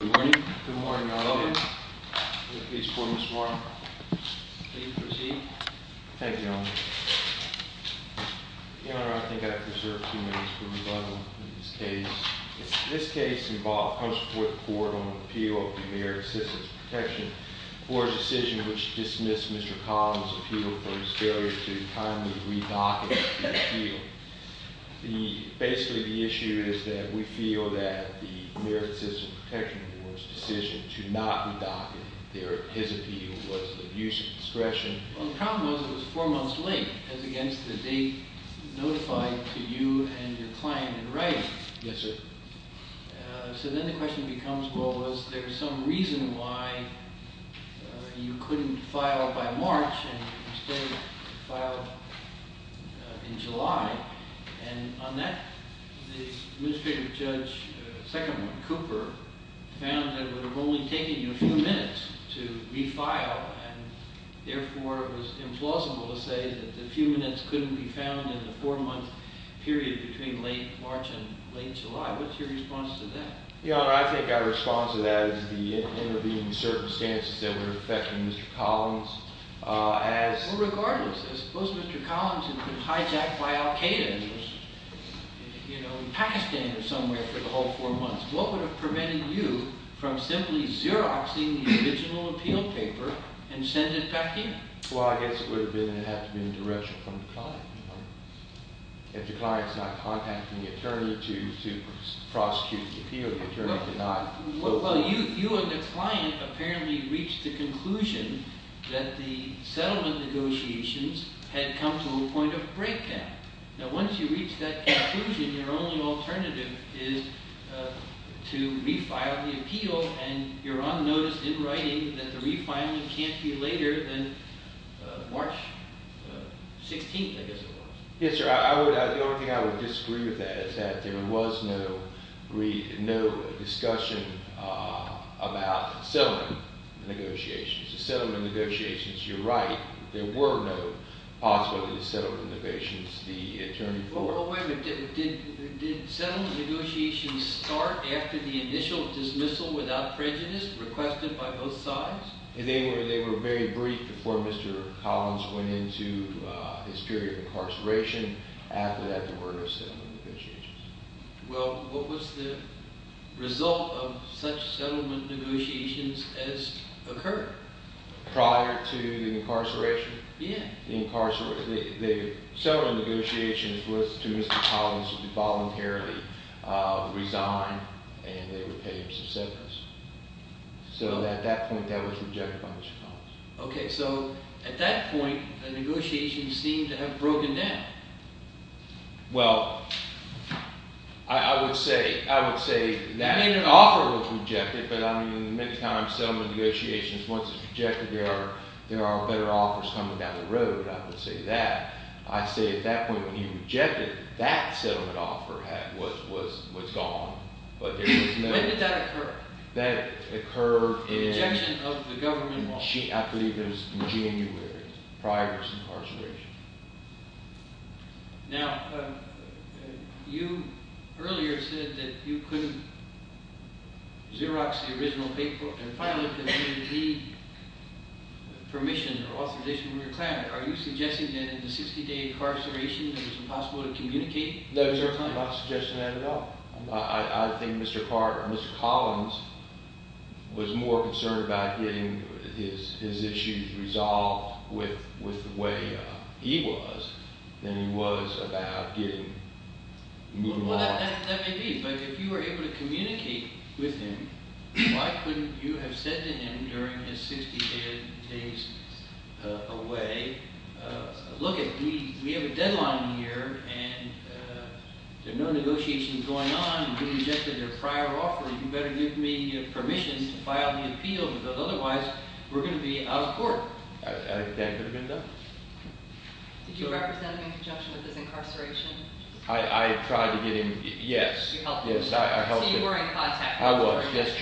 Good morning. Good morning, Your Honor. Is there a case for me this morning? Please proceed. Thank you, Your Honor. Your Honor, I think I have reserved a few minutes for rebuttal in this case. This case comes before the Court on an appeal of the Merit Assistance Protection for a decision which dismissed Mr. Collins' appeal for his failure to timely re-document the appeal. Basically, the issue is that we feel that the Merit Assistance Protection Board's decision to not re-document his appeal was an abuse of discretion. Well, the problem was it was four months late as against the date notified to you and your client in writing. Yes, sir. So then the question becomes, well, was there some reason why you couldn't file by March and instead filed in July? And on that, the Administrative Judge, the second one, Cooper, found that it would have only taken you a few minutes to re-file and, therefore, it was implausible to say that the few minutes couldn't be found in the four-month period between late March and late July. What's your response to that? Your Honor, I think our response to that is the intervening circumstances that were affecting Mr. Collins. Well, regardless, suppose Mr. Collins had been hijacked by al-Qaeda in Pakistan or somewhere for the whole four months. What would have prevented you from simply xeroxing the original appeal paper and send it back in? Well, I guess it would have been that it had to be in direction from the client. If the client's not contacting the attorney to prosecute the appeal, the attorney could not… Well, you and the client apparently reached the conclusion that the settlement negotiations had come to a point of breakdown. Now, once you reach that conclusion, your only alternative is to re-file the appeal, and you're unnoticed in writing that the re-filing can't be later than March 16th, I guess it was. Yes, sir. The only thing I would disagree with that is that there was no discussion about settlement negotiations. The settlement negotiations, you're right, there were no possible settlement negotiations the attorney for. Well, wait a minute. Did settlement negotiations start after the initial dismissal without prejudice requested by both sides? They were very brief before Mr. Collins went into his period of incarceration. After that, there were no settlement negotiations. Well, what was the result of such settlement negotiations as occurred? Prior to the incarceration? Yes. The settlement negotiations was to Mr. Collins to voluntarily resign, and they would pay him some severance. So at that point, that was rejected by Mr. Collins. Okay, so at that point, the negotiations seemed to have broken down. Well, I would say that… You mean an offer was rejected, but I mean many times settlement negotiations, once it's rejected, there are better offers coming down the road. I would say that. I'd say at that point when he rejected, that settlement offer was gone, but there was no… When did that occur? Rejection of the government offer. I believe it was in January, prior to his incarceration. Now, you earlier said that you couldn't Xerox the original paper and finally that you didn't need permission or authorization from your client. Are you suggesting that in the 60-day incarceration, it was impossible to communicate with your client? No, I'm not suggesting that at all. I think Mr. Collins was more concerned about getting his issues resolved with the way he was than he was about getting… Well, that may be, but if you were able to communicate with him, why couldn't you have said to him during his 60 days away, look, we have a deadline here and there are no negotiations going on, you rejected our prior offer, you better give me permission to file the appeal because otherwise we're going to be out of court. That could have been done. Did you represent him in conjunction with his incarceration? I tried to get him, yes. You helped him. Yes, I helped him. So you were in contact with him. I was, yes,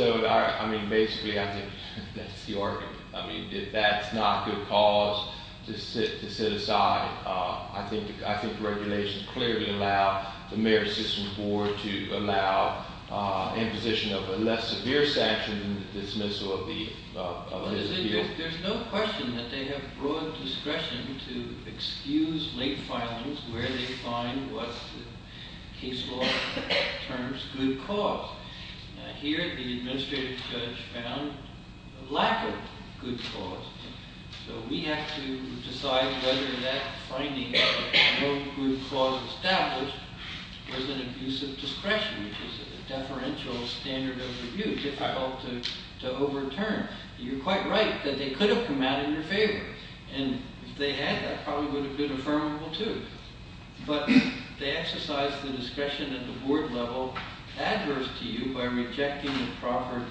I was. So, I mean, basically I think that's the argument. I mean, if that's not good cause to sit aside, I think regulations clearly allow the marriage system board to allow imposition of a less severe sanction than the dismissal of his appeal. There's no question that they have broad discretion to excuse late filings where they find what the case law terms good cause. Here the administrative judge found lack of good cause, so we have to decide whether that finding of no good cause established was an abuse of discretion, which is a deferential standard of review, difficult to overturn. You're quite right that they could have come out in your favor, and if they had, that probably would have been affirmable too. But they exercise the discretion at the board level adverse to you by rejecting the proper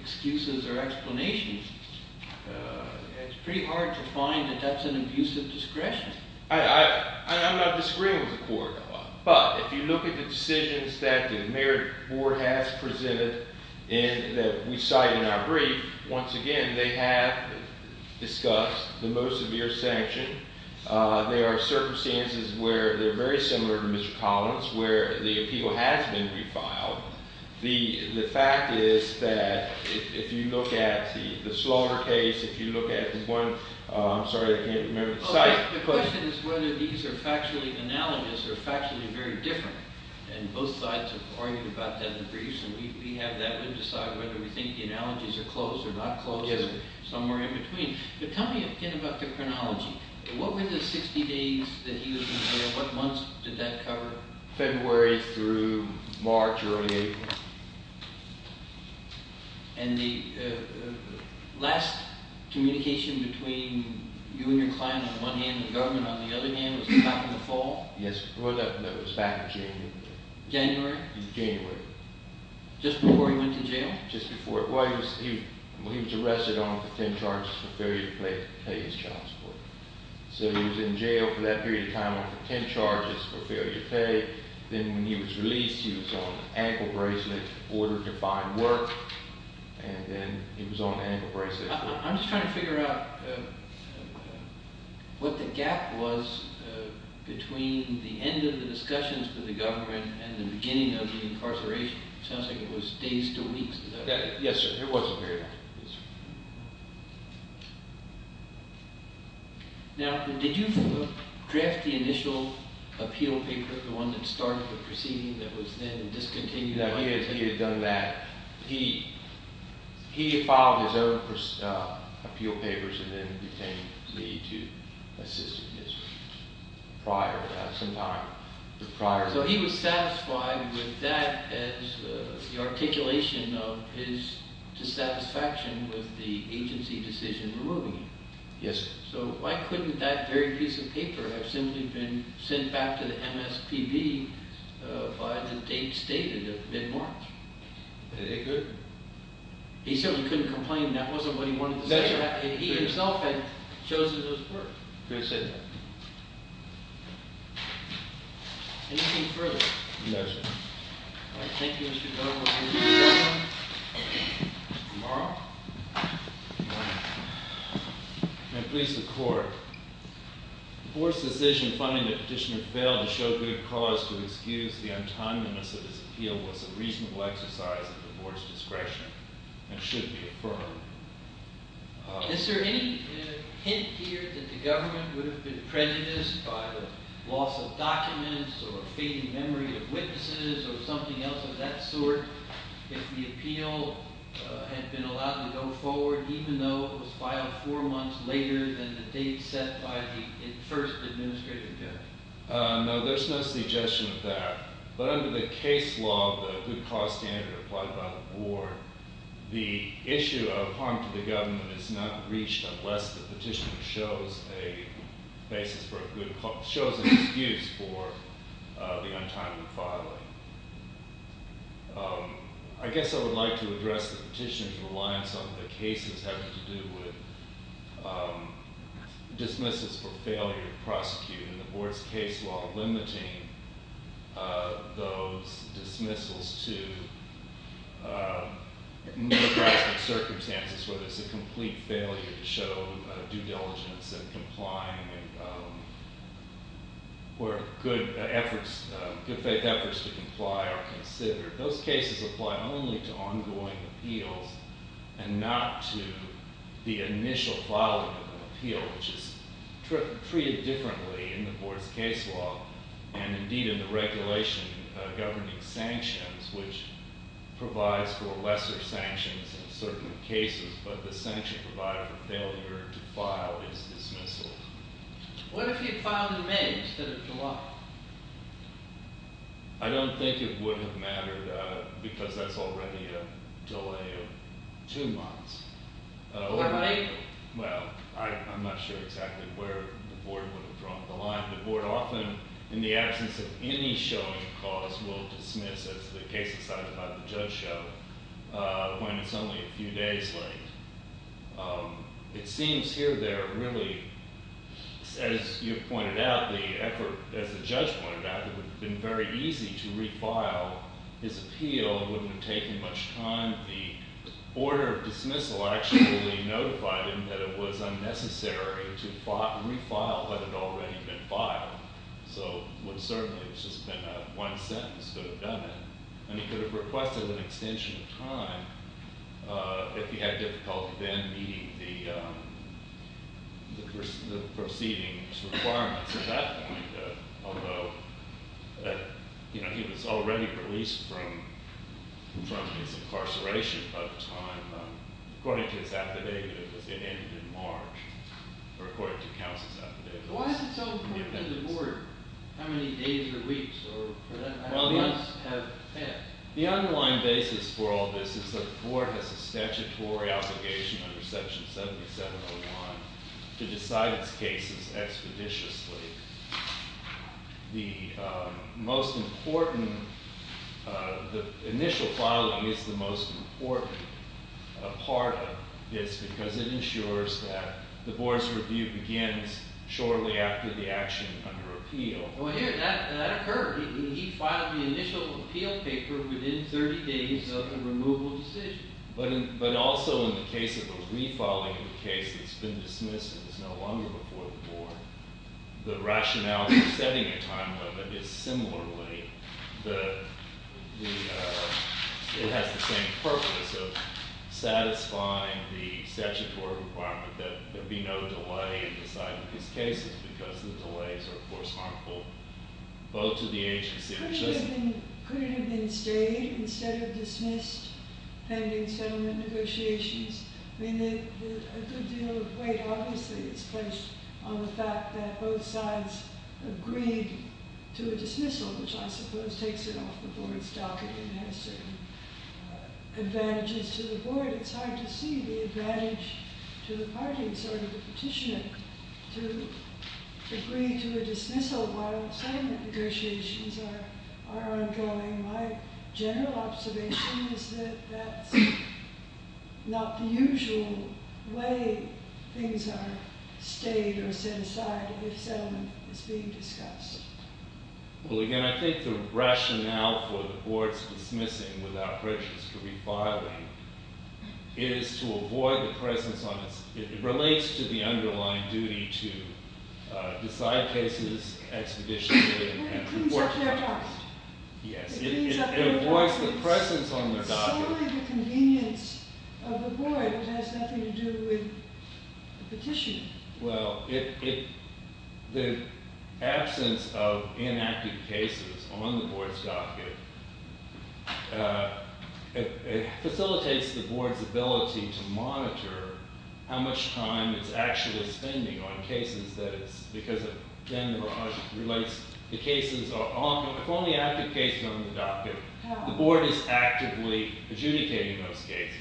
excuses or explanations. It's pretty hard to find that that's an abuse of discretion. I'm not disagreeing with the court. But if you look at the decisions that the marriage board has presented and that we cite in our brief, once again, they have discussed the most severe sanction. There are circumstances where they're very similar to Mr. Collins, where the appeal has been refiled. The fact is that if you look at the Slower case, if you look at the one – I'm sorry, I can't remember the site. The question is whether these are factually analogous or factually very different, and both sides have argued about that in the briefs, and we have that. We have to decide whether we think the analogies are close or not close or somewhere in between. Tell me a bit about the chronology. What were the 60 days that he was in jail? What months did that cover? February through March, early April. And the last communication between you and your client on the one hand and the government on the other hand was back in the fall? Yes, well, that was back in January. January? January. Just before he went to jail? Well, he was arrested on contempt charges for failure to pay his child support. So he was in jail for that period of time on contempt charges for failure to pay. Then when he was released, he was on an ankle bracelet, ordered to find work, and then he was on an ankle bracelet. I'm just trying to figure out what the gap was between the end of the discussions with the government and the beginning of the incarceration. It sounds like it was days to weeks. Yes, sir. It was a period of time. Now, did you draft the initial appeal paper, the one that started the proceeding that was then discontinued? No, he had done that. He filed his own appeal papers and then obtained me to assist him prior to that, sometime prior to that. So he was satisfied with that as the articulation of his dissatisfaction with the agency decision removing him. Yes, sir. So why couldn't that very piece of paper have simply been sent back to the MSPB by the date stated of mid-March? It couldn't. He said he couldn't complain. That wasn't what he wanted to say. He himself had chosen those words. He said that. Anything further? No, sir. All right. Thank you, Mr. Dunn. We'll see you tomorrow. Tomorrow? May it please the Court. The Board's decision finding that Petitioner failed to show good cause to excuse the untimeliness of his appeal was a reasonable exercise of the Board's discretion and should be affirmed. Is there any hint here that the government would have been prejudiced by the loss of documents or a fading memory of witnesses or something else of that sort if the appeal had been allowed to go forward even though it was filed four months later than the date set by the first administrative judge? No, there's no suggestion of that. But under the case law, the good cause standard applied by the Board, the issue of harm to the government is not reached unless the Petitioner shows a basis for a good cause – shows an excuse for the untimely filing. I guess I would like to address the Petitioner's reliance on the cases having to do with dismissals for failure to prosecute. And the Board's case law limiting those dismissals to neoclassic circumstances where there's a complete failure to show due diligence and complying and where good faith efforts to comply are considered. Those cases apply only to ongoing appeals and not to the initial filing of an appeal, which is treated differently in the Board's case law and, indeed, in the regulation governing sanctions, which provides for lesser sanctions in certain cases, but the sanction provider for failure to file is dismissal. What if he had filed in May instead of July? I don't think it would have mattered because that's already a delay of two months. Or May? Well, I'm not sure exactly where the Board would have drawn the line. The Board often, in the absence of any showing cause, will dismiss, as the case decided by the judge showed, when it's only a few days late. It seems here, there, really, as you pointed out, the effort, as the judge pointed out, it would have been very easy to refile his appeal. It wouldn't have taken much time. The order of dismissal actually notified him that it was unnecessary to refile had it already been filed. So certainly, it's just been one sentence could have done it. And he could have requested an extension of time if he had difficulty then meeting the proceeding's requirements at that point, although he was already released from his incarceration at the time. According to his affidavit, it was ended in March, or according to counsel's affidavit. Why is it so important to the Board how many days or weeks or months have passed? The underlying basis for all this is that the Board has a statutory obligation under Section 7701 to decide its cases expeditiously. The most important, the initial filing is the most important part of this because it ensures that the Board's review begins shortly after the action under appeal. Well, here, that occurred. He filed the initial appeal paper within 30 days of the removal decision. But also, in the case of a refiling of a case that's been dismissed and is no longer before the Board, the rationale for setting a time limit is similarly. It has the same purpose of satisfying the statutory requirement that there be no delay in deciding his cases because the delays are, of course, harmful both to the agency. Could it have been stayed instead of dismissed pending settlement negotiations? I mean, a good deal of weight, obviously, is placed on the fact that both sides agreed to a dismissal, which I suppose takes it off the Board's docket and has certain advantages to the Board. It's hard to see the advantage to the parties or to the petitioner to agree to a dismissal while settlement negotiations are ongoing. My general observation is that that's not the usual way things are stayed or set aside if settlement is being discussed. Well, again, I think the rationale for the Board's dismissing without breaches for refiling is to avoid the presence on its, it relates to the underlying duty to decide cases expeditionally. Well, it cleans up their docket. Yes. It cleans up their docket. It avoids the presence on their docket. It's solely the convenience of the Board. It has nothing to do with the petitioner. Well, it, the absence of inactive cases on the Board's docket, it facilitates the Board's ability to monitor how much time it's actually spending on cases that it's, because then it relates, the cases are, if only active cases are on the docket, the Board is actively adjudicating those cases.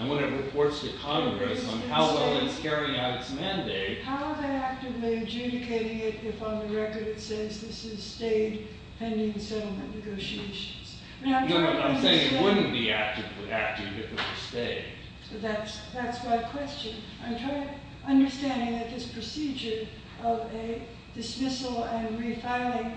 And when it reports to Congress on how well it's carrying out its mandate. How they're actively adjudicating it if on the record it says this is stayed pending settlement negotiations. You know what, I'm saying it wouldn't be active if it were stayed. That's my question. I'm trying, understanding that this procedure of a dismissal and refiling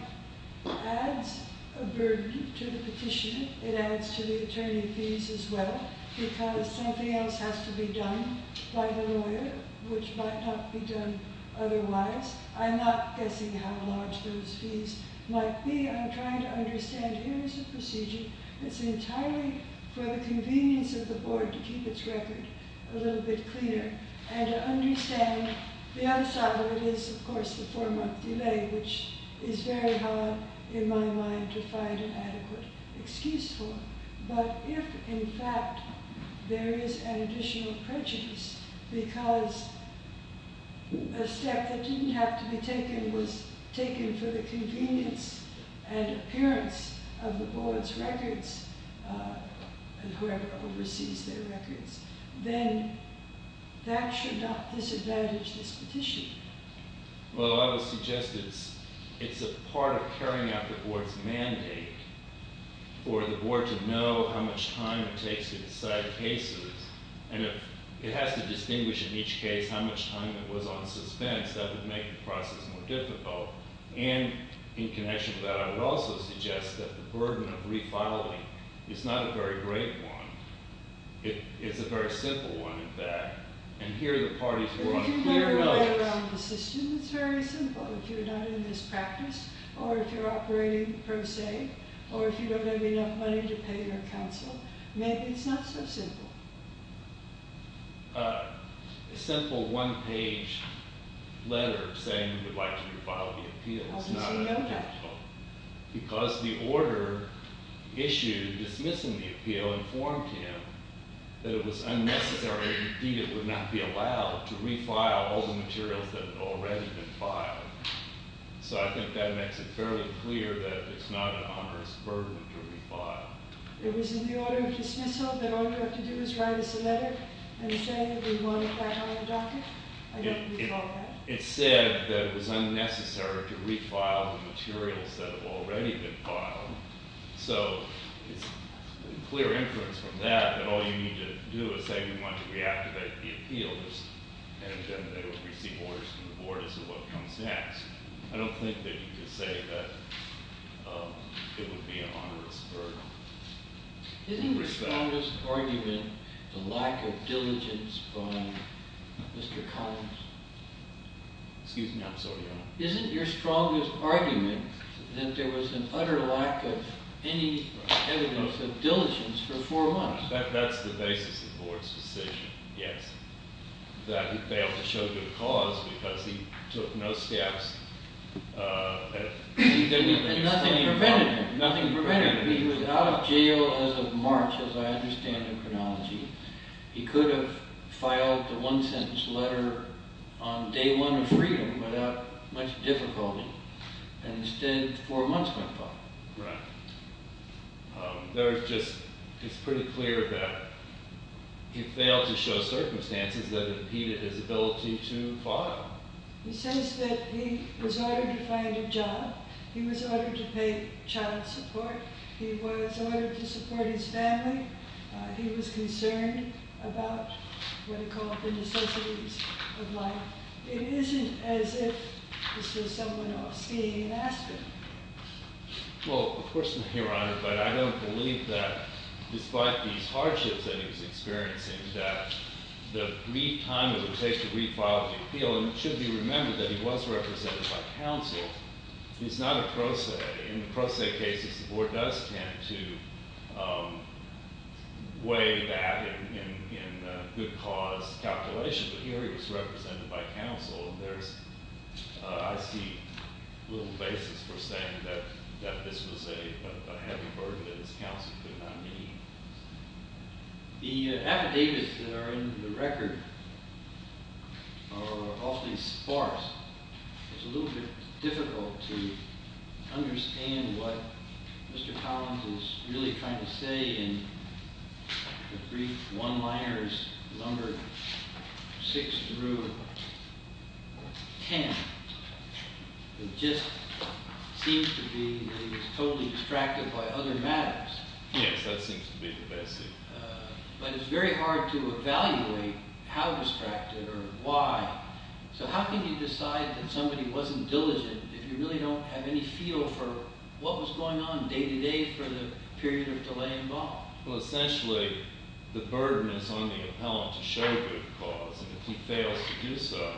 adds a burden to the petitioner. It adds to the attorney fees as well because something else has to be done by the lawyer which might not be done otherwise. I'm not guessing how large those fees might be. I'm trying to understand here is a procedure that's entirely for the convenience of the Board to keep its record a little bit cleaner and to understand the other side of it is of course the four month delay which is very hard in my mind to find an adequate excuse for. But if in fact there is an additional prejudice because a step that didn't have to be taken was taken for the convenience and appearance of the Board's records and whoever oversees their records. Then that should not disadvantage this petition. Well I would suggest it's a part of carrying out the Board's mandate for the Board to know how much time it takes to decide cases. And if it has to distinguish in each case how much time it was on suspense that would make the process more difficult. And in connection with that I would also suggest that the burden of refiling is not a very great one. It's a very simple one in fact. If you look around the system it's very simple. If you're not in this practice or if you're operating per se or if you don't have enough money to pay your counsel maybe it's not so simple. A simple one page letter saying we would like to refile the appeal. How does he know that? Because the order issued dismissing the appeal informed him that it was unnecessary and indeed it would not be allowed to refile all the materials that had already been filed. So I think that makes it fairly clear that it's not an onerous burden to refile. It was in the order of dismissal that all you have to do is write us a letter and say that we want it back on the docket. I don't recall that. It said that it was unnecessary to refile the materials that have already been filed. So it's clear inference from that that all you need to do is say we want to reactivate the appeals and then it would receive orders from the Board as to what comes next. I don't think that you can say that it would be an onerous burden. Isn't your strongest argument the lack of diligence by Mr. Collins? Excuse me, I'm sorry Your Honor. Isn't your strongest argument that there was an utter lack of any evidence of diligence for four months? That's the basis of the Board's decision, yes. That he failed to show good cause because he took no steps. And nothing prevented him. Nothing prevented him. He was out of jail as of March, as I understand the chronology. He could have filed the one-sentence letter on day one of freedom without much difficulty. And instead, four months went by. Right. It's pretty clear that he failed to show circumstances that impeded his ability to file. He says that he was ordered to find a job. He was ordered to pay child support. He was ordered to support his family. He was concerned about what he called the necessities of life. It isn't as if this was someone off skiing in Aspen. Well, of course, Your Honor, but I don't believe that despite these hardships that he was experiencing, that the brief time it would take to refile the appeal, and it should be remembered that he was represented by counsel, is not a pro se. In pro se cases, the Board does tend to weigh that in good cause calculations. But here he was represented by counsel. I see little basis for saying that this was a heavy burden that his counsel could not meet. The affidavits that are in the record are awfully sparse. It's a little bit difficult to understand what Mr. Collins is really trying to say in the brief one-liners, number six through ten. It just seems to be that he was totally distracted by other matters. Yes, that seems to be the best thing. But it's very hard to evaluate how distracted or why. So how can you decide that somebody wasn't diligent if you really don't have any feel for what was going on day-to-day for the period of delay involved? Well, essentially, the burden is on the appellant to show good cause, and if he fails to do so,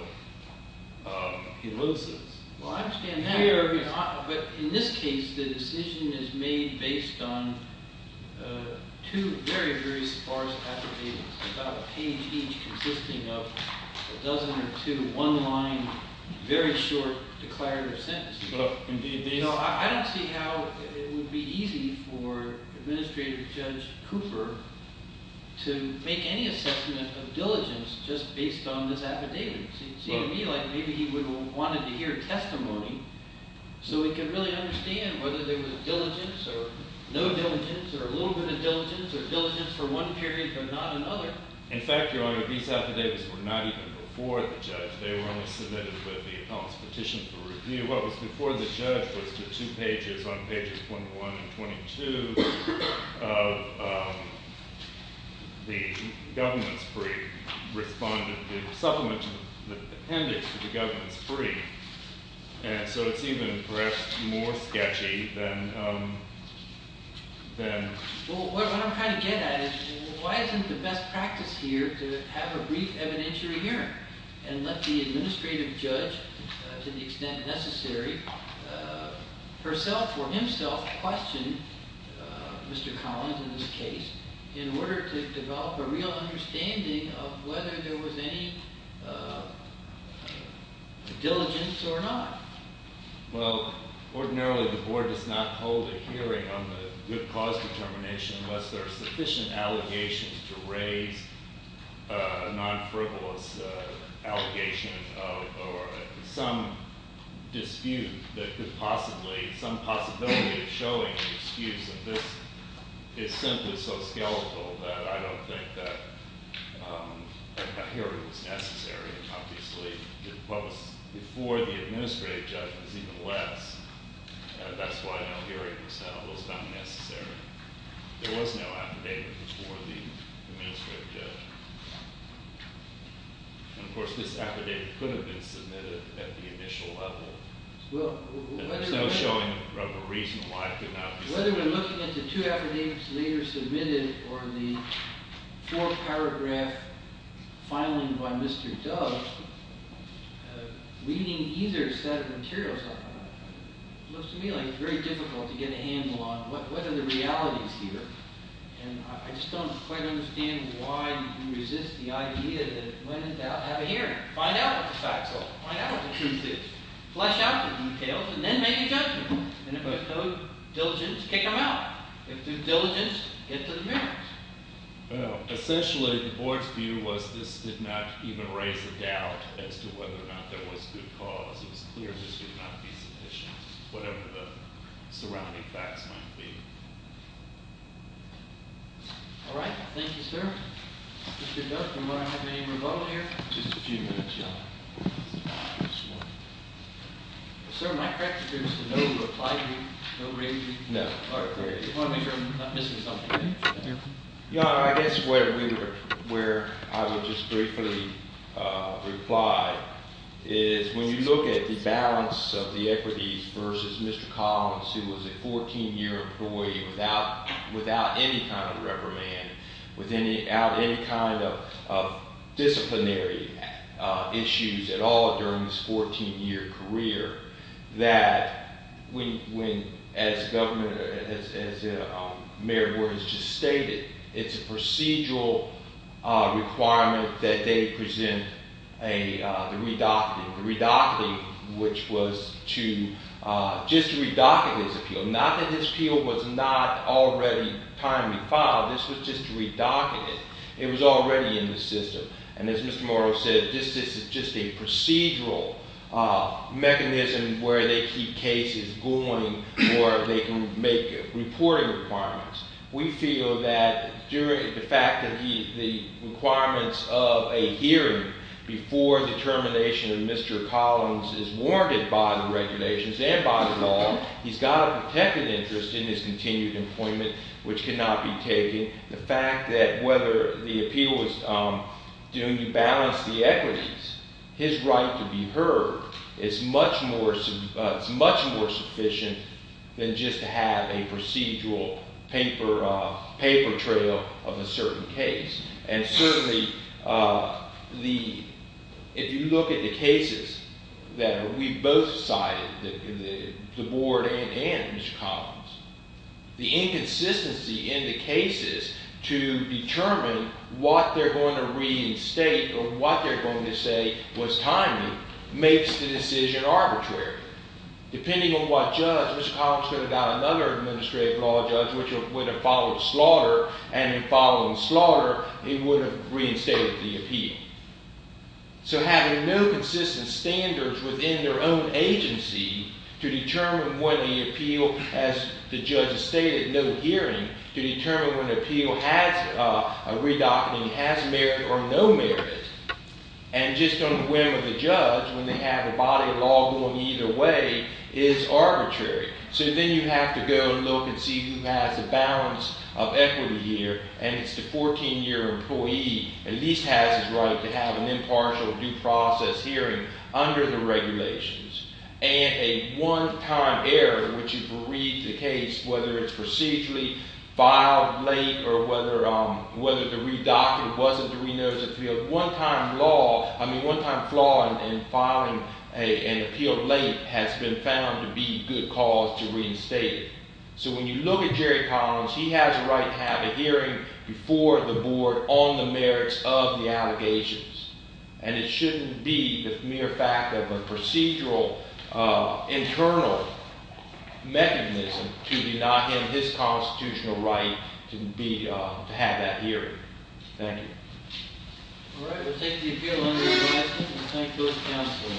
he loses. Well, I understand that. But in this case, the decision is made based on two very, very sparse affidavits, about a page each consisting of a dozen or two one-line, very short declarative sentences. No, I don't see how it would be easy for Administrative Judge Cooper to make any assessment of diligence just based on this affidavit. It seemed to me like maybe he wanted to hear testimony so he could really understand whether there was diligence or no diligence or a little bit of diligence or diligence for one period but not another. In fact, Your Honor, these affidavits were not even before the judge. They were only submitted with the appellant's petition for review. What was before the judge was the two pages on pages 21 and 22 of the government's brief, the supplement to the appendix to the government's brief. And so it's even, perhaps, more sketchy than— Well, what I'm trying to get at is why isn't the best practice here to have a brief evidentiary hearing and let the administrative judge, to the extent necessary, herself or himself question Mr. Collins in this case in order to develop a real understanding of whether there was any diligence or not? Well, ordinarily the board does not hold a hearing on the good cause determination unless there are sufficient allegations to raise a non-frivolous allegation or some dispute that could possibly— some possibility of showing an excuse that this is simply so skeletal that I don't think that a hearing was necessary. Obviously, the post before the administrative judge was even less. That's why no hearing was held. It was not necessary. There was no affidavit before the administrative judge. And, of course, this affidavit could have been submitted at the initial level. There's no showing of a reason why it could not be submitted. Looking at the two affidavits later submitted or the four-paragraph filing by Mr. Dove, reading either set of materials looks to me like it's very difficult to get a handle on what are the realities here. And I just don't quite understand why you resist the idea that when in doubt have a hearing. Find out what the facts are. Find out what the truth is. Flesh out the details and then make a judgment. And if there's no diligence, kick them out. If there's diligence, get to the merits. Well, essentially, the board's view was this did not even raise a doubt as to whether or not there was good cause. It was clear this would not be submitted, whatever the surrounding facts might be. All right. Thank you, sir. Mr. Dove, do I have any rebuttal here? Just a few minutes, John. Sir, my question is to no reply to you. No raising. No. You want to make sure I'm not missing something. Yeah, I guess where I would just briefly reply is when you look at the balance of the equities versus Mr. Collins, who was a 14-year employee without any kind of reprimand, without any kind of disciplinary issues at all during his 14-year career, that when, as the mayor has just stated, it's a procedural requirement that they present the redocting. The redocting, which was just to redoct his appeal. Not that his appeal was not already timely filed. This was just to redoct it. It was already in the system. And as Mr. Morrow said, this is just a procedural mechanism where they keep cases going or they can make reporting requirements. We feel that during the fact that the requirements of a hearing before the termination of Mr. Collins is warranted by the regulations and by the law, he's got a protected interest in his continued employment, which cannot be taken. The fact that whether the appeal was due to balance the equities, his right to be heard is much more sufficient than just to have a procedural paper trail of a certain case. And certainly, if you look at the cases that we both cited, the board and Mr. Collins, the inconsistency in the cases to determine what they're going to reinstate or what they're going to say was timely makes the decision arbitrary. Depending on what judge, Mr. Collins could have got another administrative law judge, which would have followed slaughter. And in following slaughter, he would have reinstated the appeal. So having no consistent standards within their own agency to determine when the appeal, as the judge has stated, no hearing, to determine when the appeal has a redocting, has merit or no merit, and just on the whim of the judge, when they have a body of law going either way, is arbitrary. So then you have to go and look and see who has the balance of equity here, and it's the 14-year employee at least has his right to have an impartial due process hearing under the regulations. And a one-time error, which is to read the case, whether it's procedurally filed late or whether the redocting wasn't to be noticed, a one-time flaw in filing an appeal late has been found to be good cause to reinstate it. So when you look at Jerry Collins, he has a right to have a hearing before the board on the merits of the allegations. And it shouldn't be the mere fact of a procedural, internal mechanism to deny him his constitutional right to have that hearing. Thank you. All right, we'll take the appeal under reversal and thank both counsel.